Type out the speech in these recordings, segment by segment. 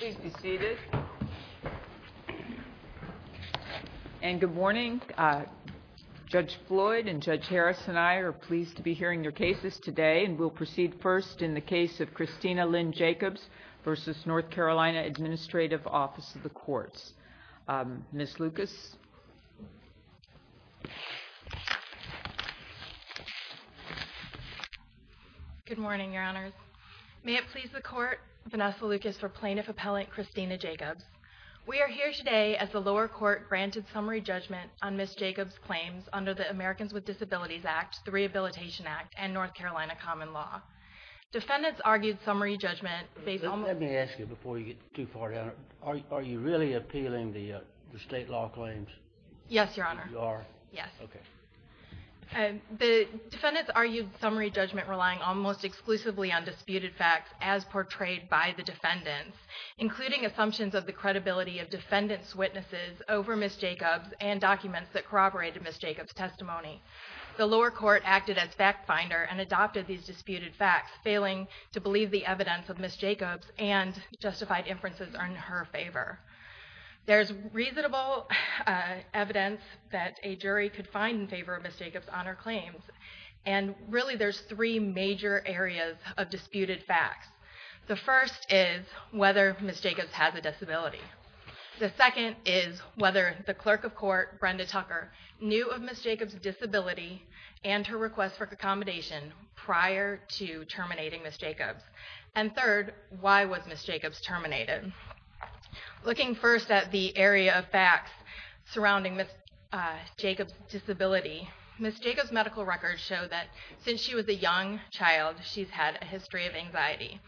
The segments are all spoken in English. Please be seated. And good morning. Judge Floyd and Judge Harris and I are pleased to be hearing your cases today and we'll proceed first in the case of Christina Lynn Jacobs v. NC Admin Office of the Courts. Ms. Lucas. Good morning, Your Honors. May it please the Court, Vanessa Lucas for Plaintiff Appellant Christina Jacobs. We are here today as the lower court granted summary judgment on Ms. Jacobs' claims under the Americans with Disabilities Act, the Rehabilitation Act, and North Carolina Common Law. Defendants argued summary judgment based on- Let me ask you before you get too far are you really appealing the state law claims? Yes, Your Honor. You are? Yes. Okay. The defendants argued summary judgment relying almost exclusively on disputed facts as portrayed by the defendants, including assumptions of the credibility of defendants' witnesses over Ms. Jacobs and documents that corroborated Ms. Jacobs' testimony. The lower court acted as fact finder and adopted these disputed facts, failing to believe the evidence of Ms. Jacobs and justified inferences are in her favor. There's reasonable evidence that a jury could find in favor of Ms. Jacobs' honor claims, and really there's three major areas of disputed facts. The first is whether Ms. Jacobs has a disability. The second is whether the clerk of court, Brenda Tucker, knew of Ms. Jacobs' disability and her request for accommodation prior to Ms. Jacobs terminated. Looking first at the area of facts surrounding Ms. Jacobs' disability, Ms. Jacobs' medical records show that since she was a young child, she's had a history of anxiety.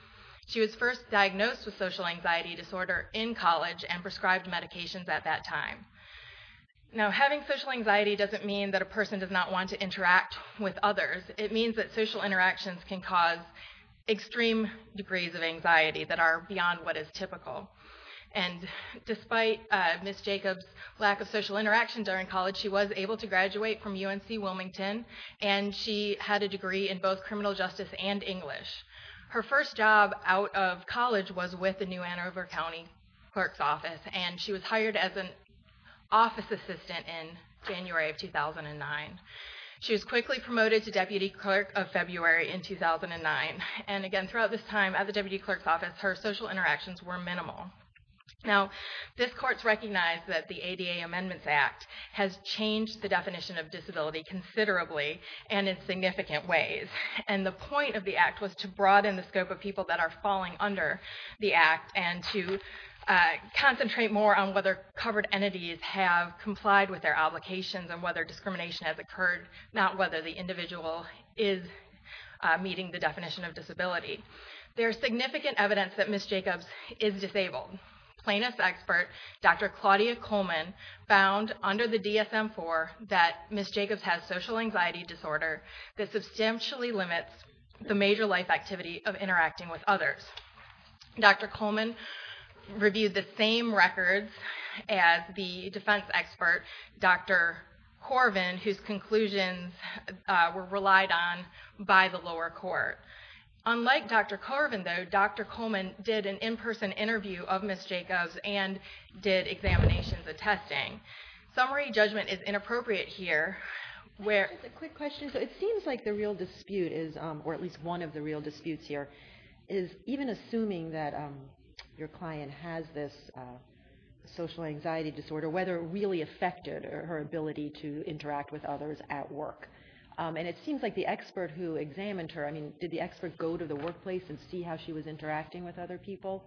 She was first diagnosed with social anxiety disorder in college and prescribed medications at that time. Now, having social anxiety doesn't mean that a person does not want to interact with others. It means that social interactions can cause extreme degrees of anxiety that are beyond what is typical. And despite Ms. Jacobs' lack of social interaction during college, she was able to graduate from UNC Wilmington, and she had a degree in both criminal justice and English. Her first job out of college was with the New Ann Arbor County Clerk's Office, and she was hired as an office assistant in January of 2009. She was quickly promoted to deputy clerk of February in 2009. And again, throughout this time at the deputy clerk's office, her social interactions were minimal. Now, this court's recognized that the ADA Amendments Act has changed the definition of disability considerably and in significant ways. And the point of the act was to broaden the scope of people that are falling under the act and to concentrate more on whether covered entities have complied with their obligations and whether discrimination has occurred, not whether the individual is meeting the definition of disability. There's significant evidence that Ms. Jacobs is disabled. Plaintiff's expert, Dr. Claudia Coleman, found under the DSM-IV that Ms. Jacobs has social anxiety disorder that substantially limits the records as the defense expert, Dr. Corvin, whose conclusions were relied on by the lower court. Unlike Dr. Corvin, though, Dr. Coleman did an in-person interview of Ms. Jacobs and did examinations and testing. Summary judgment is inappropriate here. I have just a quick question. So it seems like the real dispute is, or at least one of the real social anxiety disorder, whether it really affected her ability to interact with others at work. And it seems like the expert who examined her, I mean, did the expert go to the workplace and see how she was interacting with other people?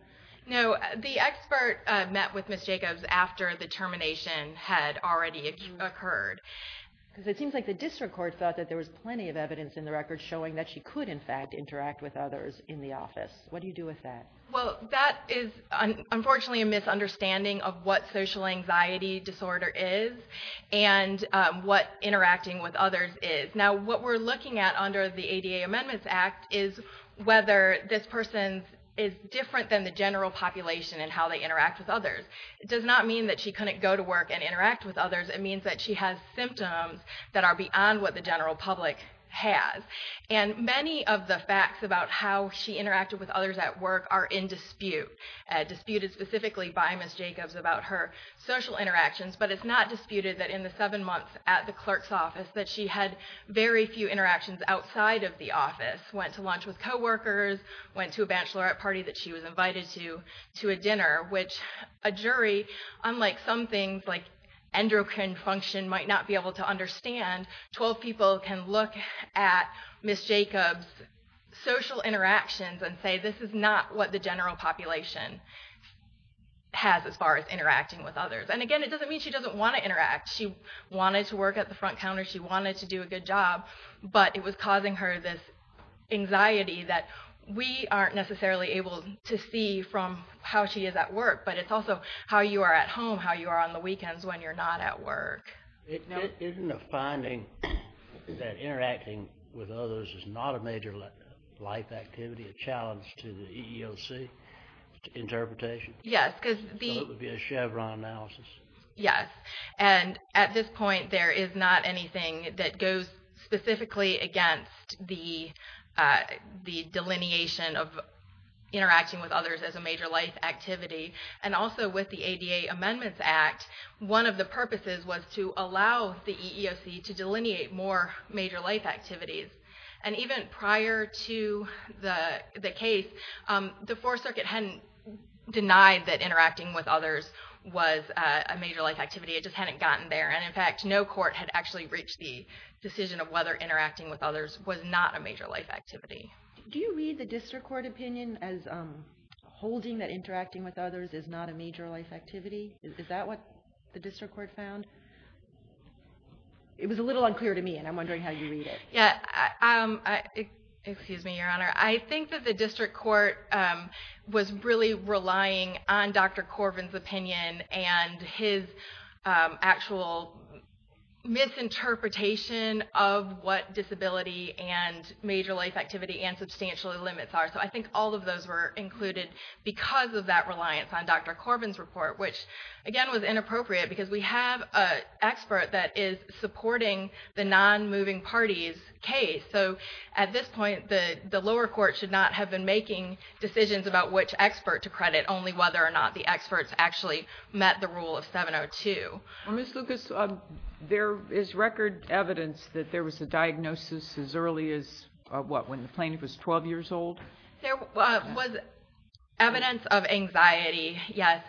No. The expert met with Ms. Jacobs after the termination had already occurred. Because it seems like the district court thought that there was plenty of evidence in the record showing that she could, in fact, interact with others in the office. What do you do with that? Well, that is unfortunately a misunderstanding of what social anxiety disorder is and what interacting with others is. Now, what we're looking at under the ADA Amendments Act is whether this person is different than the general population in how they interact with others. It does not mean that she couldn't go to work and interact with others. It means that she has symptoms that are beyond what the general public has. And many of the facts about how she with others at work are in dispute, disputed specifically by Ms. Jacobs about her social interactions. But it's not disputed that in the seven months at the clerk's office that she had very few interactions outside of the office, went to lunch with coworkers, went to a bachelorette party that she was invited to, to a dinner, which a jury, unlike some things like endocrine function, might not be able to understand, 12 people can look at Ms. Jacobs' social interactions and say this is not what the general population has as far as interacting with others. And again, it doesn't mean she doesn't want to interact. She wanted to work at the front counter. She wanted to do a good job. But it was causing her this anxiety that we aren't necessarily able to see from how she is at work. But it's also how you are at home, how you are on the weekends when you're not at work. Isn't the finding that not a major life activity a challenge to the EEOC interpretation? Yes, because the... So it would be a Chevron analysis. Yes. And at this point, there is not anything that goes specifically against the delineation of interacting with others as a major life activity. And also with the ADA Amendments Act, one of the purposes was to allow the EEOC to delineate more major life activities. And even prior to the case, the Fourth Circuit hadn't denied that interacting with others was a major life activity. It just hadn't gotten there. And in fact, no court had actually reached the decision of whether interacting with others was not a major life activity. Do you read the district court opinion as holding that interacting with others is not a major life activity, the district court found? It was a little unclear to me, and I'm wondering how you read it. Yes. Excuse me, Your Honor. I think that the district court was really relying on Dr. Corbin's opinion and his actual misinterpretation of what disability and major life activity and substantial limits are. So I think all of those were included because of that reliance on Dr. Corbin's opinion. I think it's inappropriate because we have an expert that is supporting the non-moving parties case. So at this point, the lower court should not have been making decisions about which expert to credit, only whether or not the experts actually met the rule of 702. Well, Ms. Lucas, there is record evidence that there was a diagnosis as early as, what, when the plaintiff was 12 years old? There was evidence of anxiety, yes.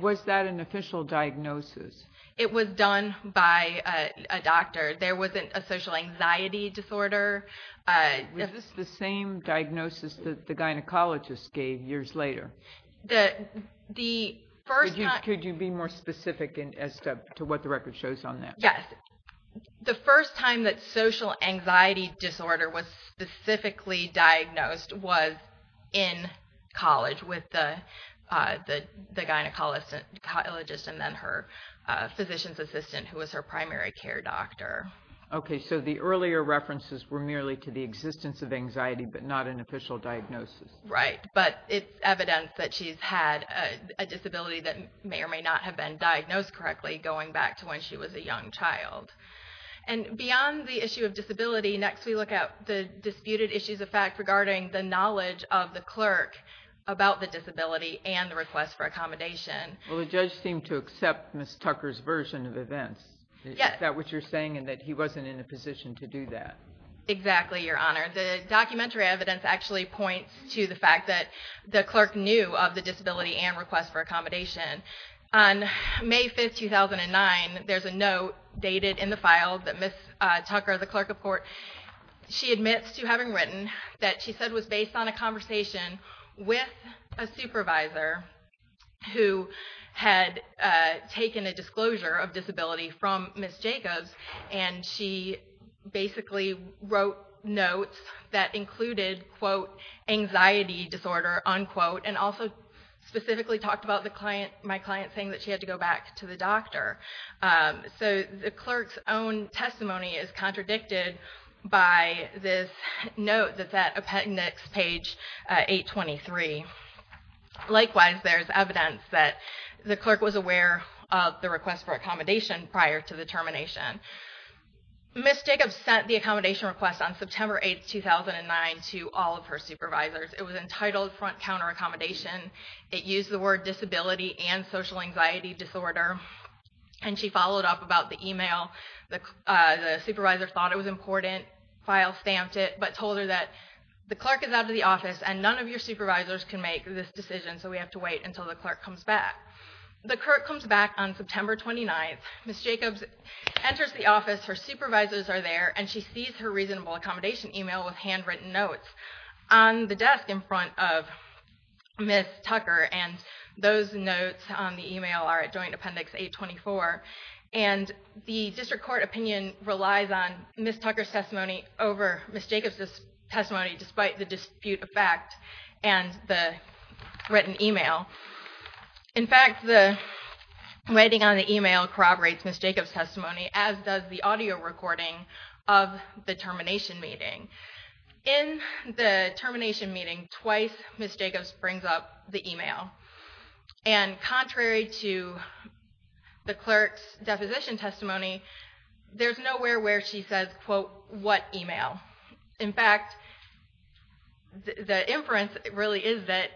Was that an official diagnosis? It was done by a doctor. There wasn't a social anxiety disorder. Was this the same diagnosis that the gynecologist gave years later? Could you be more specific as to what the record shows on that? Yes. The first time that social anxiety disorder was specifically diagnosed was in college with the gynecologist and then her physician's assistant who was her primary care doctor. Okay. So the earlier references were merely to the existence of anxiety, but not an official diagnosis. Right. But it's evidence that she's had a disability that may or may not have been diagnosed correctly going back to when she was a young child. And beyond the issue of disability, next we look at the disputed issues of fact regarding the clerk about the disability and the request for accommodation. Well, the judge seemed to accept Ms. Tucker's version of events. Is that what you're saying in that he wasn't in a position to do that? Exactly, Your Honor. The documentary evidence actually points to the fact that the clerk knew of the disability and request for accommodation. On May 5, 2009, there's a note dated in the file that Ms. Tucker, the clerk of court, she admits to having written that she said was based on a conversation with a supervisor who had taken a disclosure of disability from Ms. Jacobs. And she basically wrote notes that included, quote, anxiety disorder, unquote, and also specifically talked about my client saying that she had to go back to the doctor. So the clerk's own testimony is contradicted by this note that's at appendix page 823. Likewise, there's evidence that the clerk was aware of the request for accommodation prior to the termination. Ms. Jacobs sent the accommodation request on September 8, 2009, to all of her supervisors. It was entitled front counter accommodation. It used the word disability and social anxiety disorder. And she followed up about the email. The supervisor thought it was important, file stamped it, but told her that the clerk is out of the office and none of your supervisors can make this decision. So we have to wait until the clerk comes back. The clerk comes back on September 29. Ms. Jacobs enters the office. Her supervisors are there. And she sees her reasonable accommodation email with handwritten notes on the desk in front of Ms. Tucker. And those notes on the email are at joint appendix 824. And the district court opinion relies on Ms. Tucker's testimony over Ms. Jacobs' testimony despite the dispute of fact and the written email. In fact, the writing on the email corroborates Ms. Jacobs' testimony, as does the audio recording of the termination meeting. In the termination meeting, twice Ms. Jacobs brings up the email. And contrary to the clerk's deposition testimony, there's nowhere where she says, quote, what email. In fact, the inference really is that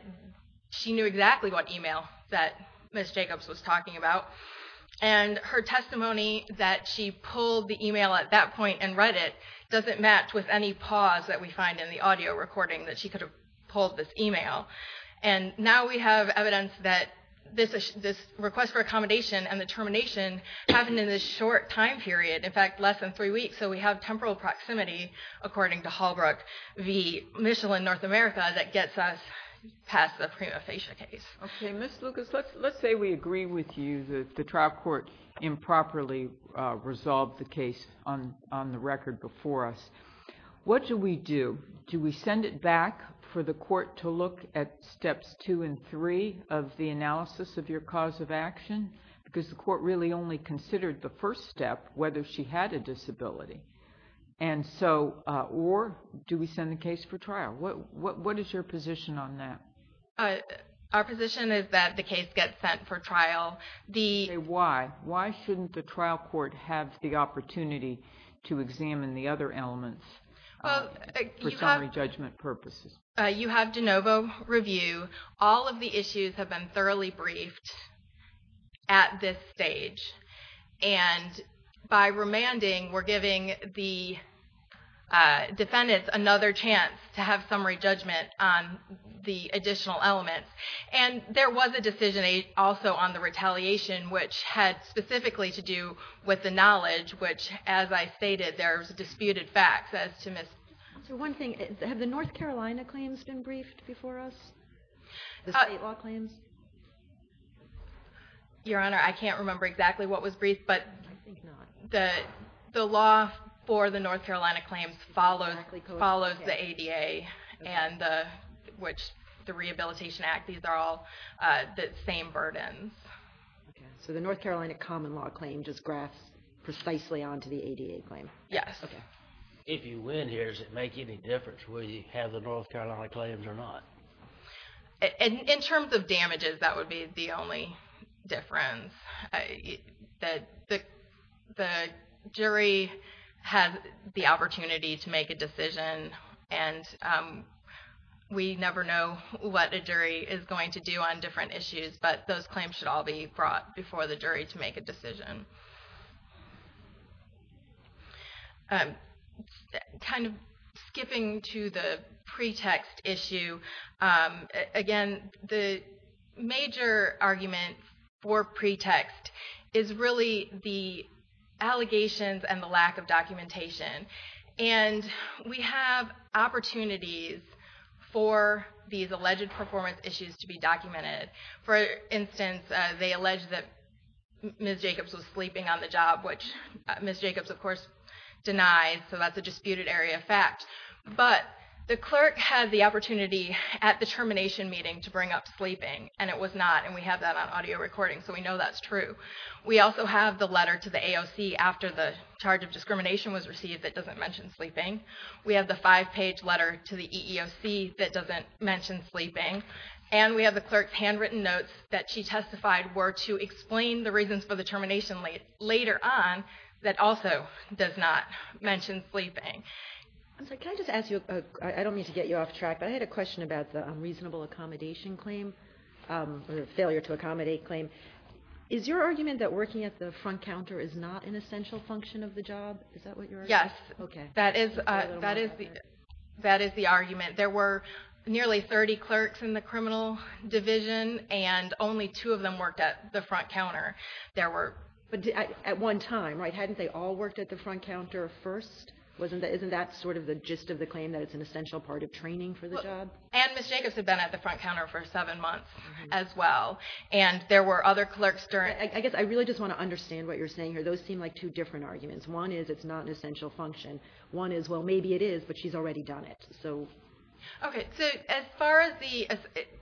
she knew exactly what email that Ms. Jacobs was talking about. And her testimony that she pulled the email at that point and read it doesn't match with any pause that we find in the audio recording that she could have pulled this email. And now we have evidence that this request for accommodation and the termination happened in this short time period, in fact, less than three weeks. So we have temporal proximity, according to Halbrook v. Michel in North America, that gets us past the prima facie case. Okay. Ms. Lucas, let's say we agree with you that the trial court improperly resolved the case on the record before us. What do we do? Do we send it back for the court to look at steps two and three of the analysis of your cause of action? Because the court really only considered the first step, whether she had a disability. Or do we send the case for trial? What is your position on that? Our position is that the case gets sent for trial. Why? Why shouldn't the trial court have the opportunity to examine the other elements for summary judgment purposes? You have de novo review. All of the issues have been thoroughly briefed at this stage. And by remanding, we're giving the defendants another chance to have summary judgment on the additional elements. And there was a decision also on the retaliation, which had specifically to do with the knowledge, which, as I stated, there's disputed facts as to Ms. So one thing, have the North Carolina claims been briefed before us? The state law claims? Your Honor, I can't remember exactly what was briefed, but the law for the North Carolina claims follows the ADA and the Rehabilitation Act. These are all the same burdens. So the North Carolina common law claim just graphs precisely onto the ADA claim? Yes. If you win here, does it make any difference whether you have the North Carolina claims or not? In terms of damages, that would be the only difference. The jury has the opportunity to make a decision, and we never know what a jury is going to do on different issues, but those claims should all be brought before the jury to make a decision. Kind of skipping to the pretext issue, again, the major argument for pretext is really the allegations and the lack of documentation. And we have opportunities for these alleged performance issues to be documented. For instance, they allege that Ms. Jacobs was sleeping on the job, which Ms. Jacobs, of course, denies, so that's a disputed area of fact. But the clerk had the opportunity at the termination meeting to bring up sleeping, and it was not, and we have that on audio recording, so we know that's true. We also have the letter to the AOC after the charge of discrimination was received that doesn't mention sleeping. We have the five-page letter to the EEOC that doesn't mention sleeping. And we have the clerk's handwritten notes that she testified were to explain the reasons for the termination later on that also does not mention sleeping. I don't mean to get you off track, but I had a question about the unreasonable accommodation claim, or the failure to accommodate claim. Is your argument that working at the front counter is not an essential function of the job? Yes, that is the argument. There were nearly 30 clerks in the criminal division, and only two of them worked at the front counter. At one time, right? Hadn't they all worked at the front counter first? Isn't that sort of the gist of the claim, that it's an essential part of training for the job? And Ms. Jacobs had been at the front counter for seven months as well, and there were other clerks during... I guess I really just want to understand what you're saying here. Those seem like two different arguments. One is it's not an essential function. One is, well, maybe it is, but she's already done it. Okay, so as far as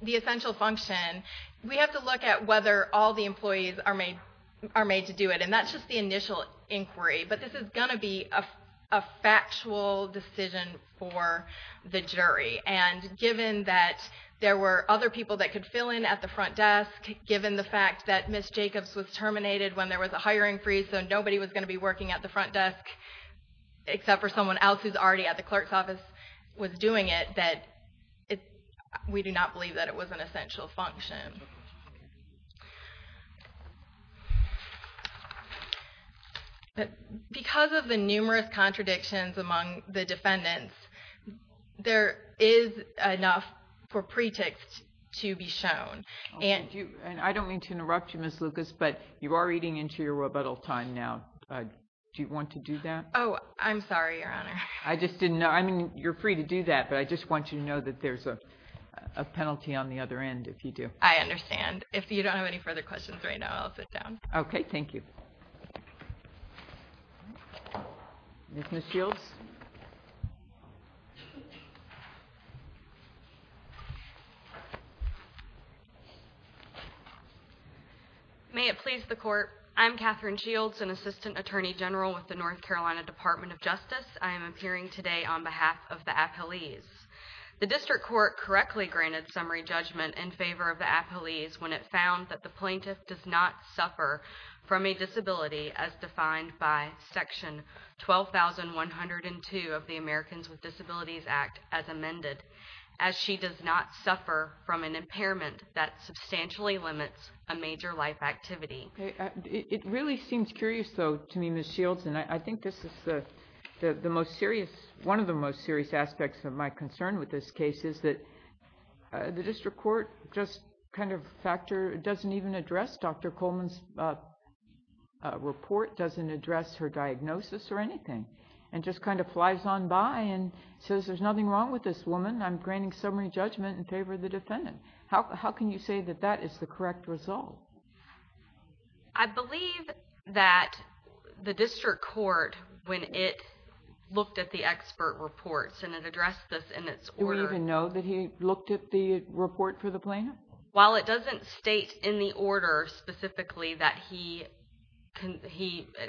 the essential function, we have to look at whether all the employees are made to do it. And that's just the initial inquiry, but this is going to be a factual decision for the jury. And given that there were other people that could fill in at the front desk, given the fact that Ms. Jacobs was terminated when there was a hiring freeze, so nobody was going to be working at the front desk except for someone else who's already at the clerk's office, was doing it, that we do not believe that it was an essential function. But because of the numerous contradictions among the defendants, there is enough for pretext to be shown. And I don't mean to interrupt you, Ms. Lucas, but you are eating into your rebuttal time now. Do you want to do that? Oh, I'm sorry, Your Honor. I just didn't know. I mean, you're free to do that, but I just want you to know that there's a penalty on the other end if you do. I understand. If you don't have any further questions right now, I'll sit down. Okay, thank you. Ms. Shields? May it please the Court, I'm Katherine Shields, an Assistant Attorney General with the North Carolina Department of Justice. I am appearing today on behalf of the appellees. The District Court correctly granted summary judgment in favor of the appellees when it found that the plaintiff does not suffer from a disability as defined by section 12102 of the Americans with Disabilities Act as amended, as she does not suffer from an impairment that substantially limits a major life activity. It really seems curious though to me, Ms. Shields, and I think this is the most serious, one of the most serious aspects of my concern with this case is that the District Court just kind of factor, doesn't even address Dr. Coleman's report, doesn't address her diagnosis or anything, and just kind of flies on by and says there's nothing wrong with this woman. I'm granting summary judgment in favor of the defendant. How can you say that that is the correct result? I believe that the District Court, when it looked at the expert reports, and it addressed this in its order. Do we even know that he looked at the report for the plaintiff? While it doesn't state in the order specifically that he,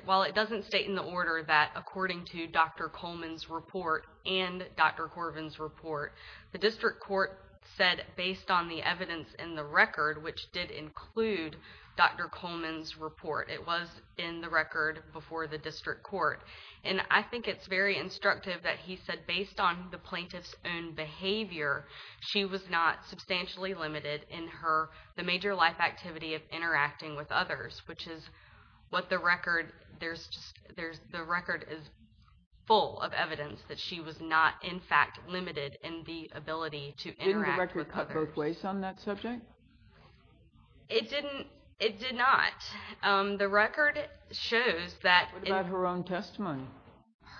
while it doesn't state in the order that according to Dr. Coleman's report and Dr. Corbin's report, the District Court said based on the evidence in the record, which did include Dr. Coleman's report, it was in the record before the District Court, and I think it's very instructive that he said based on the plaintiff's own behavior, she was not substantially limited in her, the major life activity of interacting with others, which is what the record, there's just, there's, the record is full of evidence that she was not in fact limited in the ability to interact with others. Didn't the record cut both ways on that subject? It didn't, it did not. The record shows that. What about her own testimony?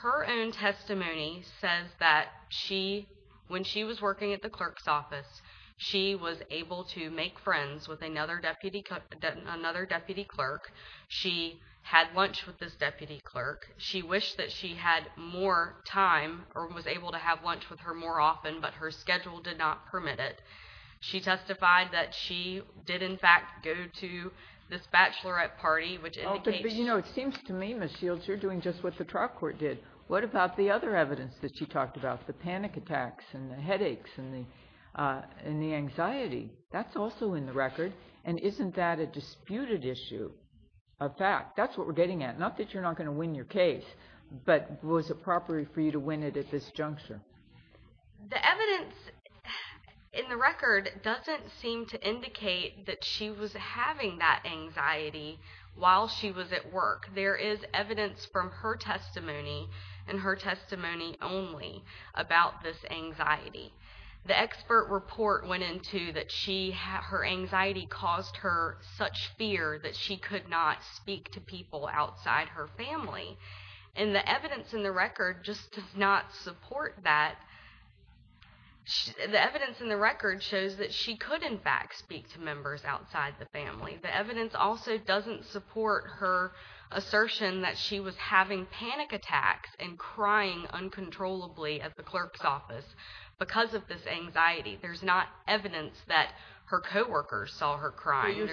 Her own testimony says that she, when she was working at the clerk's office, she was able to make friends with another deputy, another deputy clerk. She had lunch with this deputy clerk. She wished that she had more time or was able to have lunch with her more often, but her schedule did not permit it. She testified that she did in fact go to this bachelorette party, which indicates... But you know, it seems to me, Ms. Shields, you're doing just what the trial court did. What about the other evidence that she talked about, the panic attacks and the headaches and the anxiety? That's also in the record, and isn't that a disputed issue, a fact? That's what we're getting at. Not that you're not going to win your case, but was it proper for you to win it at this juncture? The evidence in the record doesn't seem to indicate that she was having that anxiety while she was at work. There is evidence from her testimony and her testimony only about this anxiety. The expert report went into that her anxiety caused her such fear that she could not speak to people outside her family. The evidence in the record just does not support that. The evidence in the record shows that she could in fact speak to members outside the family. The evidence also doesn't support her assertion that she was having panic attacks and crying uncontrollably at the clerk's office because of this anxiety. There's not evidence that her co-workers saw her crying.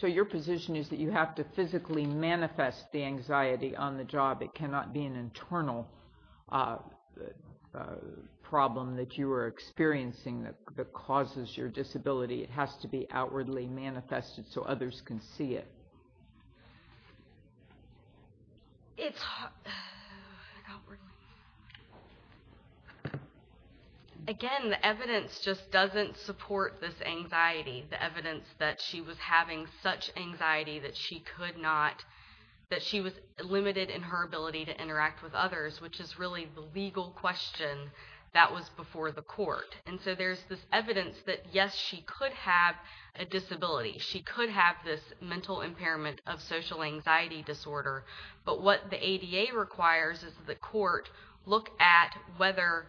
So your position is that you have to physically manifest the anxiety on the job. It cannot be an internal problem that you are experiencing that causes your disability. It has to be outwardly manifested so others can see it. Again, the evidence just doesn't support this anxiety. The evidence that she was having such anxiety that she could not, that she was limited in her ability to interact with others, which is really the legal question that was before the court. And so there's this evidence that yes, she could have a disability. She could have this mental impairment of social anxiety disorder. But what the ADA requires is the court look at whether,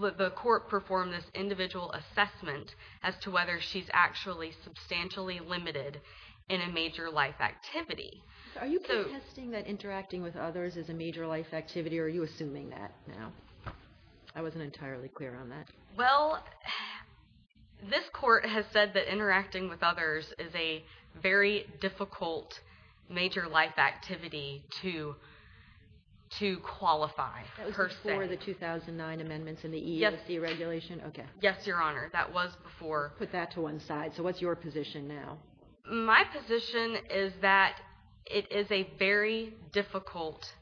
the court perform this individual assessment as to whether she's actually substantially limited in a major life activity. So are you contesting that interacting with others is a major life activity or are you assuming that now? I wasn't entirely clear on that. Well, this court has said that interacting with others is a very difficult major life activity to, to qualify. That was before the 2009 amendments in the EEOC regulation? Okay. Yes, Your Honor, that was before. Put that to one side. So what's your position now? My position is that it is a very difficult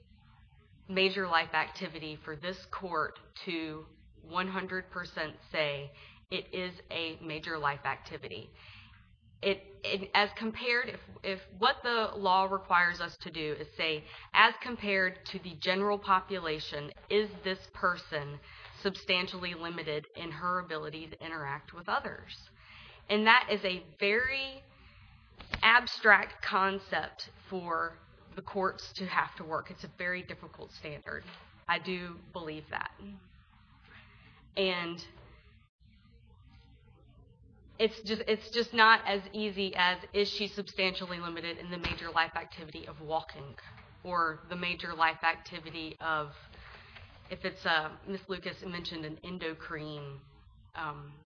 major life activity for this court to 100% say it is a major life activity. As compared, if what the law requires us to do is say, as compared to the general population, is this person substantially limited in her ability to interact with others? And that is a very abstract concept for the courts to have to work. It's a very difficult standard. I do believe that. And it's just, it's just not as easy as, is she substantially limited in the major life activity of, if it's a, Ms. Lucas mentioned an endocrine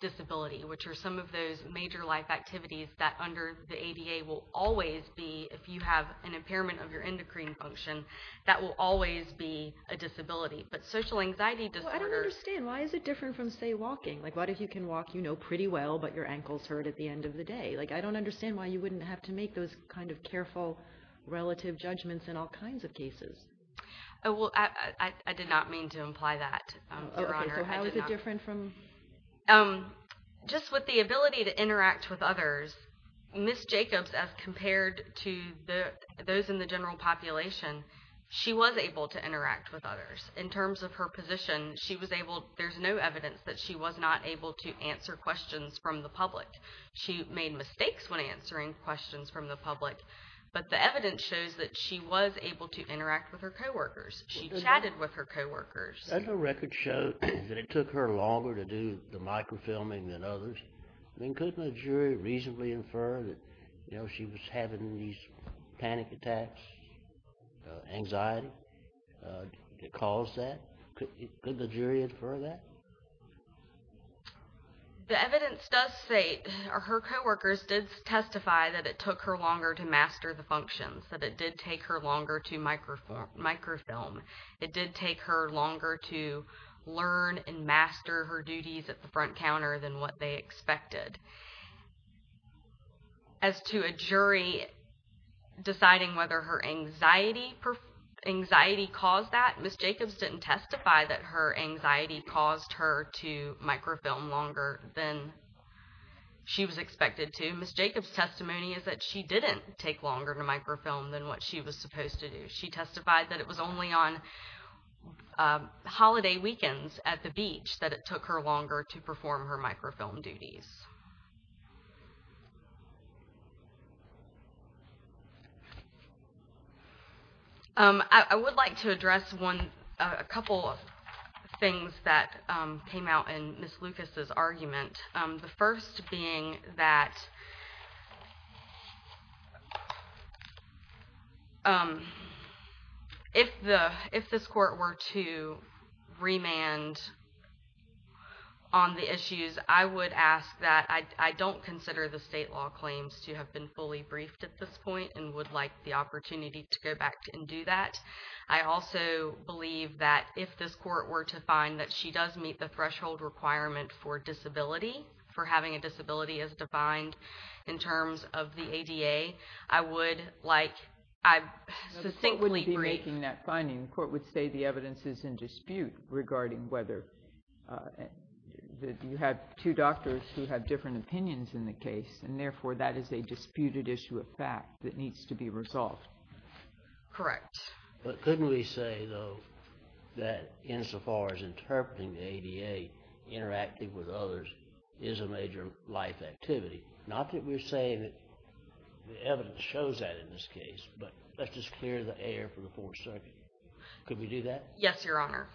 disability, which are some of those major life activities that under the ADA will always be, if you have an impairment of your endocrine function, that will always be a disability. But social anxiety disorders... Well, I don't understand. Why is it different from, say, walking? Like, what if you can walk, you know, pretty well, but your ankle's hurt at the end of the day? Like, I don't understand why you wouldn't have to make those kind of careful relative judgments in all kinds of cases. Oh, well, I did not mean to imply that, Your Honor. Okay, so how is it different from... Just with the ability to interact with others, Ms. Jacobs, as compared to those in the general population, she was able to interact with others. In terms of her position, she was able, there's no evidence that she was not able to answer questions from the public. She made mistakes when answering questions from the public, but the evidence shows that she was able to interact with her co-workers. She chatted with her co-workers. Doesn't the record show that it took her longer to do the microfilming than others? I mean, couldn't the jury reasonably infer that, you know, she was having these panic attacks, anxiety that caused that? Couldn't the jury infer that? The evidence does state her co-workers did testify that it took her longer to master the functions, that it did take her longer to microfilm. It did take her longer to learn and master her duties at the front counter than what they expected. As to a jury deciding whether her anxiety caused that, Ms. Jacobs didn't testify that her anxiety caused her to microfilm longer than she was expected to. Ms. Jacobs' testimony is that she didn't take longer to microfilm than what she was supposed to do. She testified that it was only on holiday weekends at the beach that it took her longer to perform her microfilm duties. I would like to address a couple of things that came out in Ms. Lucas' argument, the fact that if this court were to remand on the issues, I would ask that I don't consider the state law claims to have been fully briefed at this point and would like the opportunity to go back and do that. I also believe that if this court were to find that she does meet the threshold requirement for disability, for having a disability as defined in terms of the ADA, I would like I'd succinctly brief... The court wouldn't be making that finding. The court would say the evidence is in dispute regarding whether you have two doctors who have different opinions in the case and therefore that is a disputed issue of fact that needs to be resolved. Correct. But couldn't we say though that insofar as interpreting the ADA, interacting with others is a major life activity? Not that we're saying that the evidence shows that in this case, but let's just clear the air for the Fourth Circuit. Could we do that? Yes, Your Honor.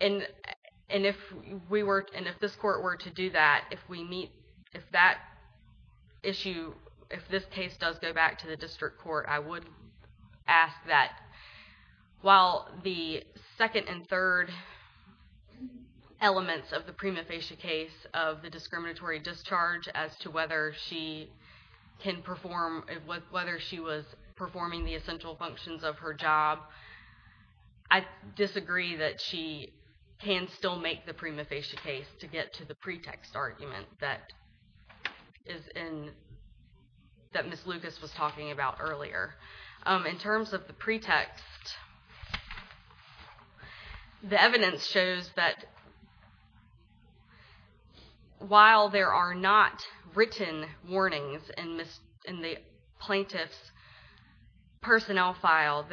And if we were, and if this court were to do that, if we meet, if that issue, if this case does go back to the district court, I would ask that while the second and third elements of the prima facie case of the discriminatory discharge as to whether she can perform, whether she was performing the essential functions of her job, I disagree that she can still make the prima facie case to get to the pretext argument that Ms. Lucas was talking about earlier. In terms of the pretext, the evidence shows that while there are not written warnings in the plaintiff's personnel file,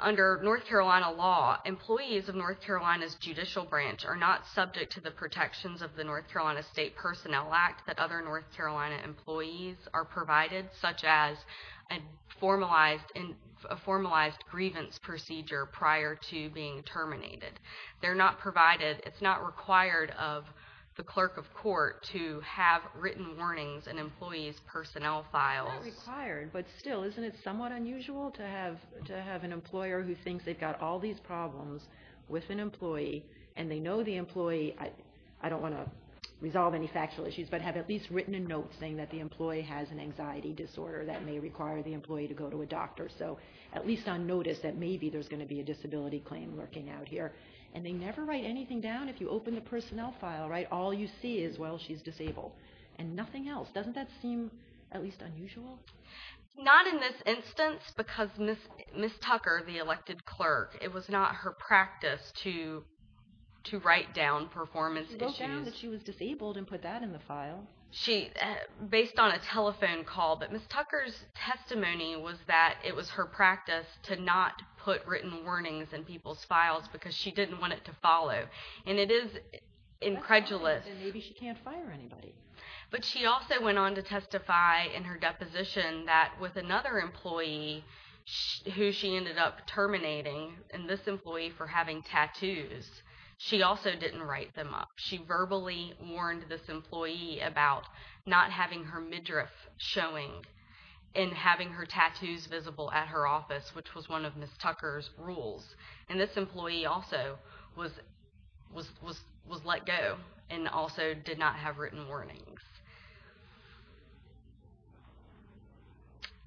under North Carolina law, employees of North Carolina's judicial branch are not subject to the protections of the North Carolina State Personnel Act that other North Carolina employees are provided, such as a formalized grievance procedure prior to being terminated. They're not provided, it's not required of the clerk of court to have written warnings in employees' personnel files. It's not required, but still, isn't it somewhat unusual to have an employer who thinks they've got all these problems with an employee, and they know the employee, I don't want to resolve any factual issues, but have at least written a note saying that the employee has an anxiety disorder that may require the employee to go to a doctor, so at least on notice that maybe there's going to be a disability claim lurking out here, and they never write anything down? If you open the personnel file, all you see is, well, she's disabled, and nothing else. Doesn't that seem at least unusual? Not in this instance, because Ms. Tucker, the elected clerk, it was not her practice to write down performance issues. She did show that she was disabled and put that in the file. She, based on a telephone call, but Ms. Tucker's testimony was that it was her practice to not put written warnings in people's files because she didn't want it to follow, and it is incredulous. Maybe she can't fire anybody. But she also went on to testify in her deposition that with another employee who she ended up terminating, and this employee for having tattoos, she also didn't write them up. She verbally warned this employee about not having her midriff showing and having her tattoos visible at her office, which was one of Ms. Tucker's rules, and this employee also was let go and also did not have written warnings.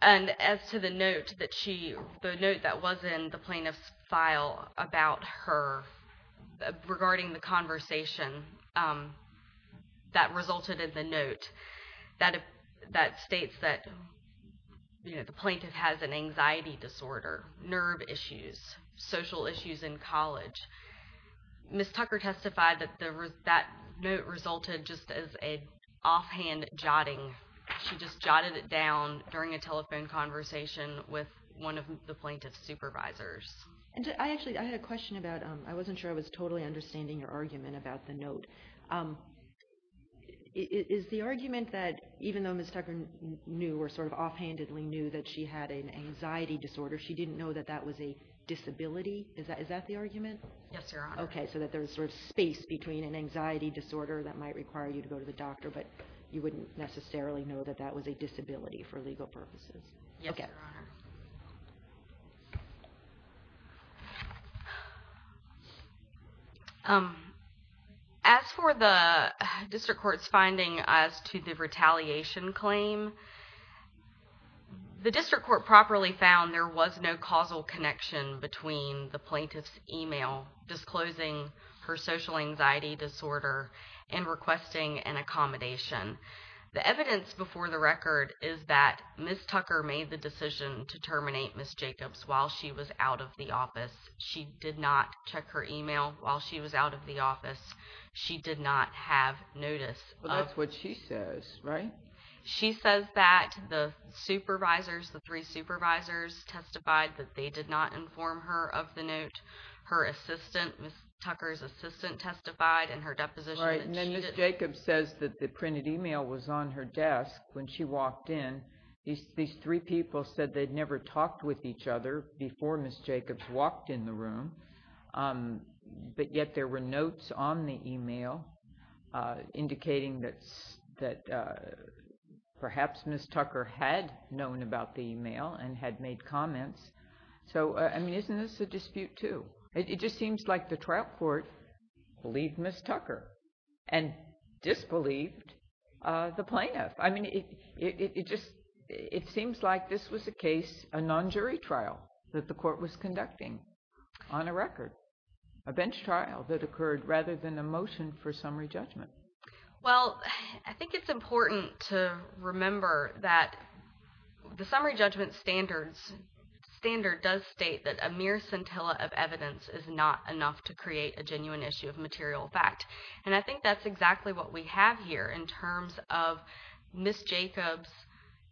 And as to the note that was in the plaintiff's file regarding the conversation that resulted in the note, that states that the plaintiff has an anxiety disorder, nerve issues, social issues in college, Ms. Tucker testified that that note resulted just as an offhand jotting. She just jotted it down during a telephone conversation with one of the plaintiff's supervisors. And I actually, I had a question about, I wasn't sure I was totally understanding your argument about the note. Is the argument that even though Ms. Tucker knew or sort of offhandedly knew that she had an anxiety disorder, she didn't know that that was a disability? Is that the argument? Yes, Your Honor. Okay, so that there's sort of space between an anxiety disorder that might require you to go to the doctor, but you wouldn't necessarily know that that was a disability for legal purposes. Yes, Your Honor. As for the district court's finding as to the retaliation claim, the district court properly found there was no causal connection between the plaintiff's email disclosing her social anxiety disorder and requesting an accommodation. The evidence before the record is that Ms. Tucker made the decision to terminate Ms. Jacobs while she was out of the office. She did not check her email while she was out of the office. She did not have notice. Well, that's what she says, right? She says that the supervisors, the three supervisors testified that they did not inform her of the note. Her assistant, Ms. Tucker's assistant testified in her deposition. Right, and then Ms. Jacobs says that the printed email was on her desk when she walked in. These three people said they'd never talked with each other before Ms. Jacobs walked in the room, but yet there were notes on the email indicating that perhaps Ms. Tucker had known about the email and had made comments. It just seems like the trial court believed Ms. Tucker and disbelieved the plaintiff. I mean, it just, it seems like this was a case, a non-jury trial that the court was conducting on a record, a bench trial that occurred rather than a motion for summary judgment. Well, I think it's important to remember that the summary judgment standard does state that mere scintilla of evidence is not enough to create a genuine issue of material fact, and I think that's exactly what we have here in terms of Ms. Jacobs'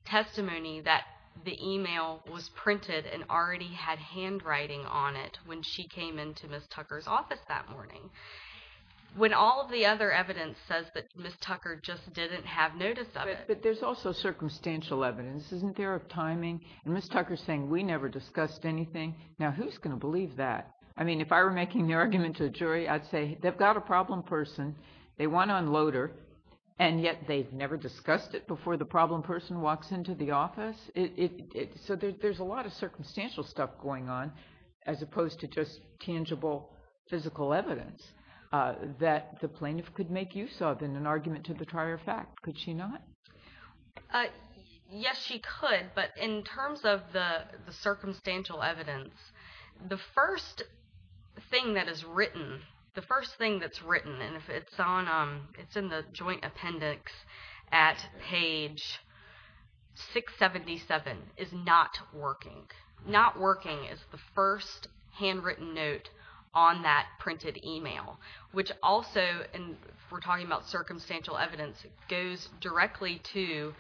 testimony that the email was printed and already had handwriting on it when she came into Ms. Tucker's office that morning. When all of the other evidence says that Ms. Tucker just didn't have notice of it. But there's also circumstantial evidence. Isn't there a timing? And Ms. Tucker's saying, we never discussed anything. Now, who's going to believe that? I mean, if I were making the argument to the jury, I'd say, they've got a problem person, they want to unload her, and yet they've never discussed it before the problem person walks into the office. So there's a lot of circumstantial stuff going on as opposed to just tangible physical evidence that the plaintiff could make use of in an argument to the trier fact. Could she not? Yes, she could. But in terms of the circumstantial evidence, the first thing that is written, the first thing that's written, and it's in the joint appendix at page 677, is not working. Not working is the first handwritten note on that printed email, which also, and we're directly to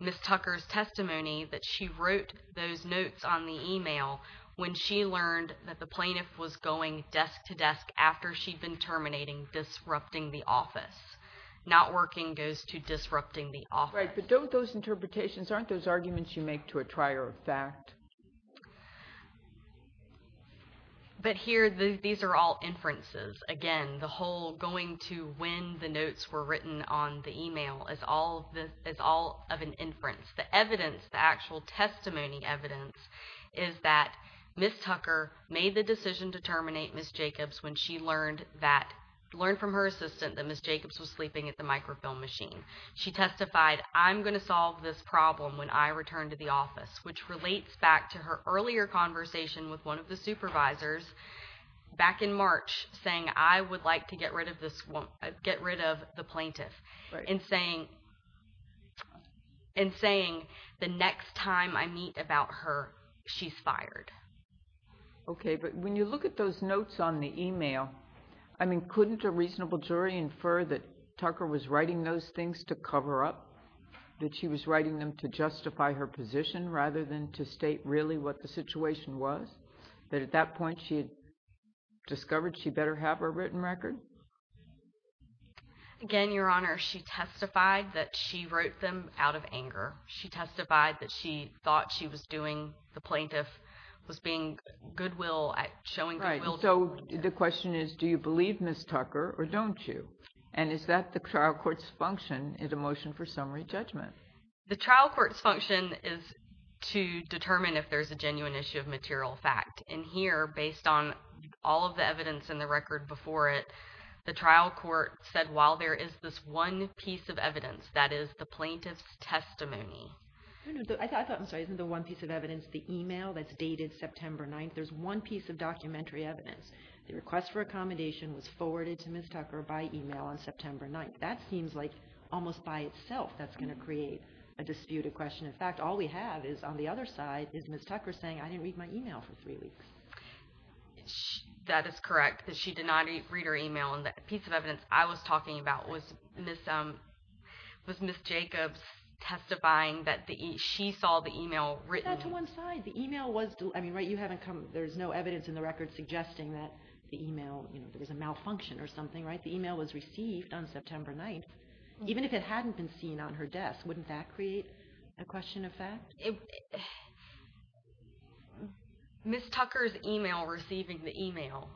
Ms. Tucker's testimony, that she wrote those notes on the email when she learned that the plaintiff was going desk to desk after she'd been terminating disrupting the office. Not working goes to disrupting the office. Right, but don't those interpretations, aren't those arguments you make to a trier fact? But here, these are all inferences. Again, the whole going to when the notes were written on the email is all of an inference. The evidence, the actual testimony evidence, is that Ms. Tucker made the decision to terminate Ms. Jacobs when she learned from her assistant that Ms. Jacobs was sleeping at the microfilm machine. She testified, I'm going to solve this problem when I return to the office, which relates back to her earlier conversation with one of the supervisors back in March, saying, I would like to get rid of the plaintiff, and saying, the next time I meet about her, she's fired. Okay, but when you look at those notes on the email, I mean, couldn't a reasonable jury infer that Tucker was writing those things to cover up, that she was writing them to really state what the situation was? That at that point, she had discovered she better have a written record? Again, Your Honor, she testified that she wrote them out of anger. She testified that she thought she was doing, the plaintiff was being goodwill, showing goodwill. So the question is, do you believe Ms. Tucker or don't you? And is that the trial court's function in the motion for summary judgment? The trial court's function is to determine if there's a genuine issue of material fact. And here, based on all of the evidence in the record before it, the trial court said, while there is this one piece of evidence, that is the plaintiff's testimony. I thought, I'm sorry, isn't the one piece of evidence the email that's dated September 9th? There's one piece of documentary evidence. The request for accommodation was forwarded to Ms. Tucker by email on September 9th. That seems like almost by itself that's going to create a disputed question. In fact, all we have is on the other side is Ms. Tucker saying, I didn't read my email for three weeks. That is correct, that she did not read her email. And that piece of evidence I was talking about was Ms. Jacobs testifying that she saw the email written. Not to one side. The email was, I mean, right, you haven't come, there's no evidence in the record suggesting that the email, you know, there was a malfunction or something, right? The email was received on September 9th. Even if it hadn't been seen on her desk, wouldn't that create a question of fact? Ms. Tucker's email receiving the email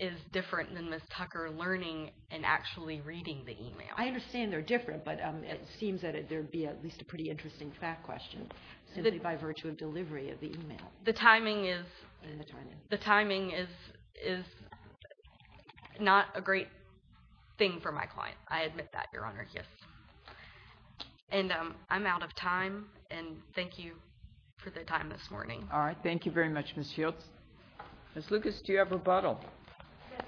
is different than Ms. Tucker learning and actually reading the email. I understand they're different, but it seems that there would be at least a pretty interesting fact question simply by virtue of delivery of the email. The timing is not a great thing for my client. I admit that, Your Honor, yes. And I'm out of time, and thank you for the time this morning. All right, thank you very much, Ms. Shields. Ms. Lucas, do you have rebuttal? Yes,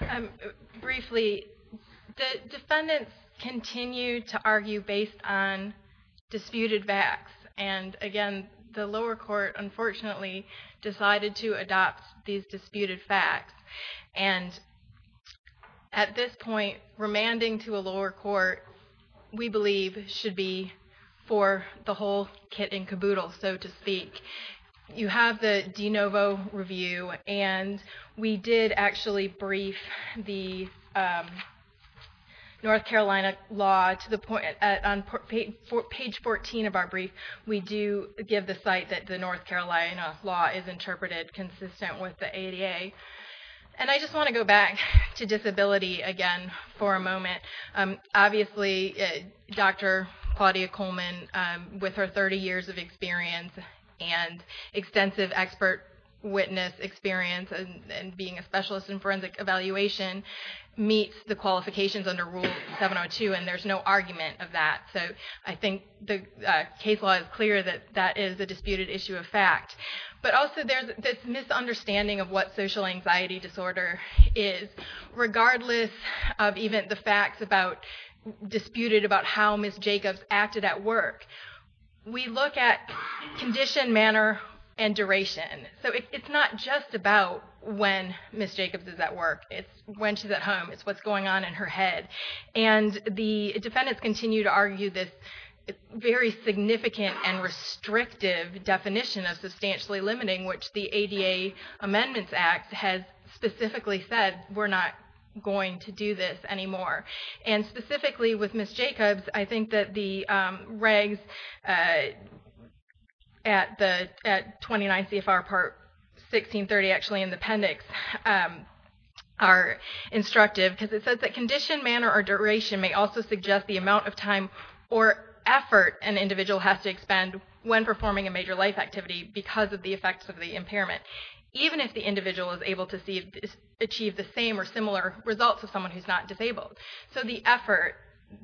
Your Honor. Briefly, the defendants continue to argue based on disputed facts, and again, the lower court, unfortunately, decided to adopt these disputed facts. And at this point, remanding to a lower court, we believe should be for the whole kit and caboodle, so to speak. You have the de novo review, and we did actually brief the North Carolina law to the point on page 14 of our brief, we do give the site that the North Carolina law is interpreted consistent with the ADA. And I just want to go back to disability again for a moment. Obviously, Dr. Claudia Coleman, with her 30 years of experience and extensive expert witness experience and being a specialist in forensic evaluation, meets the qualifications under Rule 702, and there's no argument of that. So I think the case law is clear that that is a disputed issue of fact. But also, there's this misunderstanding of what social anxiety disorder is, regardless of even the facts disputed about how Ms. Jacobs acted at work. We look at condition, manner, and duration. So it's not just about when Ms. Jacobs is at work. It's when she's at home. It's what's going on in her head. And the defendants continue to argue this very significant and restrictive definition of substantially limiting, which the ADA Amendments Act has specifically said we're not going to do this anymore. And specifically with Ms. Jacobs, I think that the regs at 29 CFR Part 1630, actually in the appendix, are instructive. Because it says that condition, manner, or duration may also suggest the amount of time or effort an individual has to expend when performing a major life activity because of the effects of the impairment, even if the individual is able to achieve the same or similar results of someone who's not disabled. So the effort,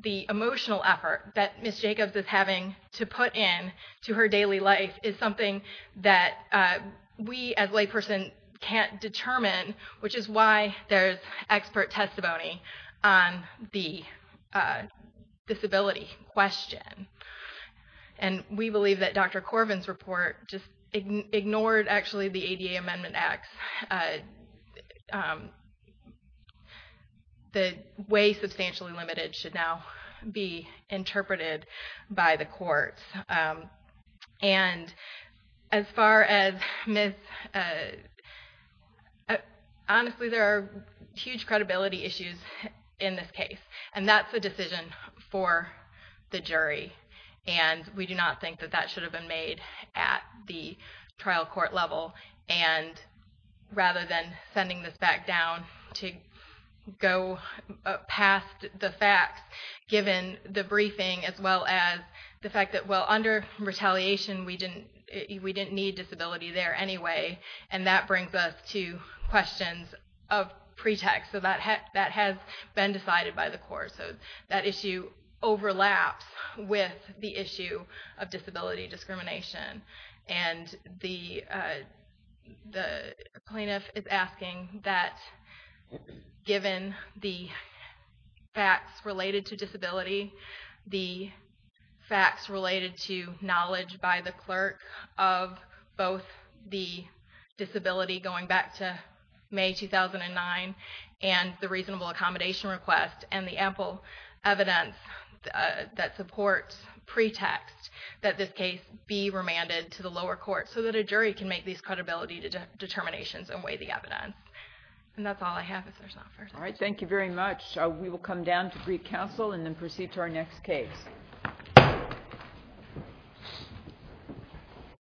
the emotional effort that Ms. Jacobs is having to put in to her daily life is something that we as a layperson can't determine, which is why there's expert testimony on the disability question. And we believe that Dr. Corvin's report just ignored, actually, the ADA Amendment Act. The way substantially limited should now be interpreted by the courts. And as far as Ms.—honestly, there are huge credibility issues in this case. And that's a decision for the jury. And we do not think that that should have been made at the trial court level. And rather than sending this back down to go past the facts, given the briefing as well as the fact that, well, under retaliation, we didn't need disability there anyway. And that brings us to questions of pretext. So that has been decided by the court. So that issue overlaps with the issue of disability discrimination. And the plaintiff is asking that, given the facts related to disability, the facts related to knowledge by the clerk of both the disability going back to May 2009 and the reasonable lower court so that a jury can make these credibility determinations and weigh the evidence. And that's all I have. If there's not further— All right. Thank you very much. We will come down to brief counsel and then proceed to our next case.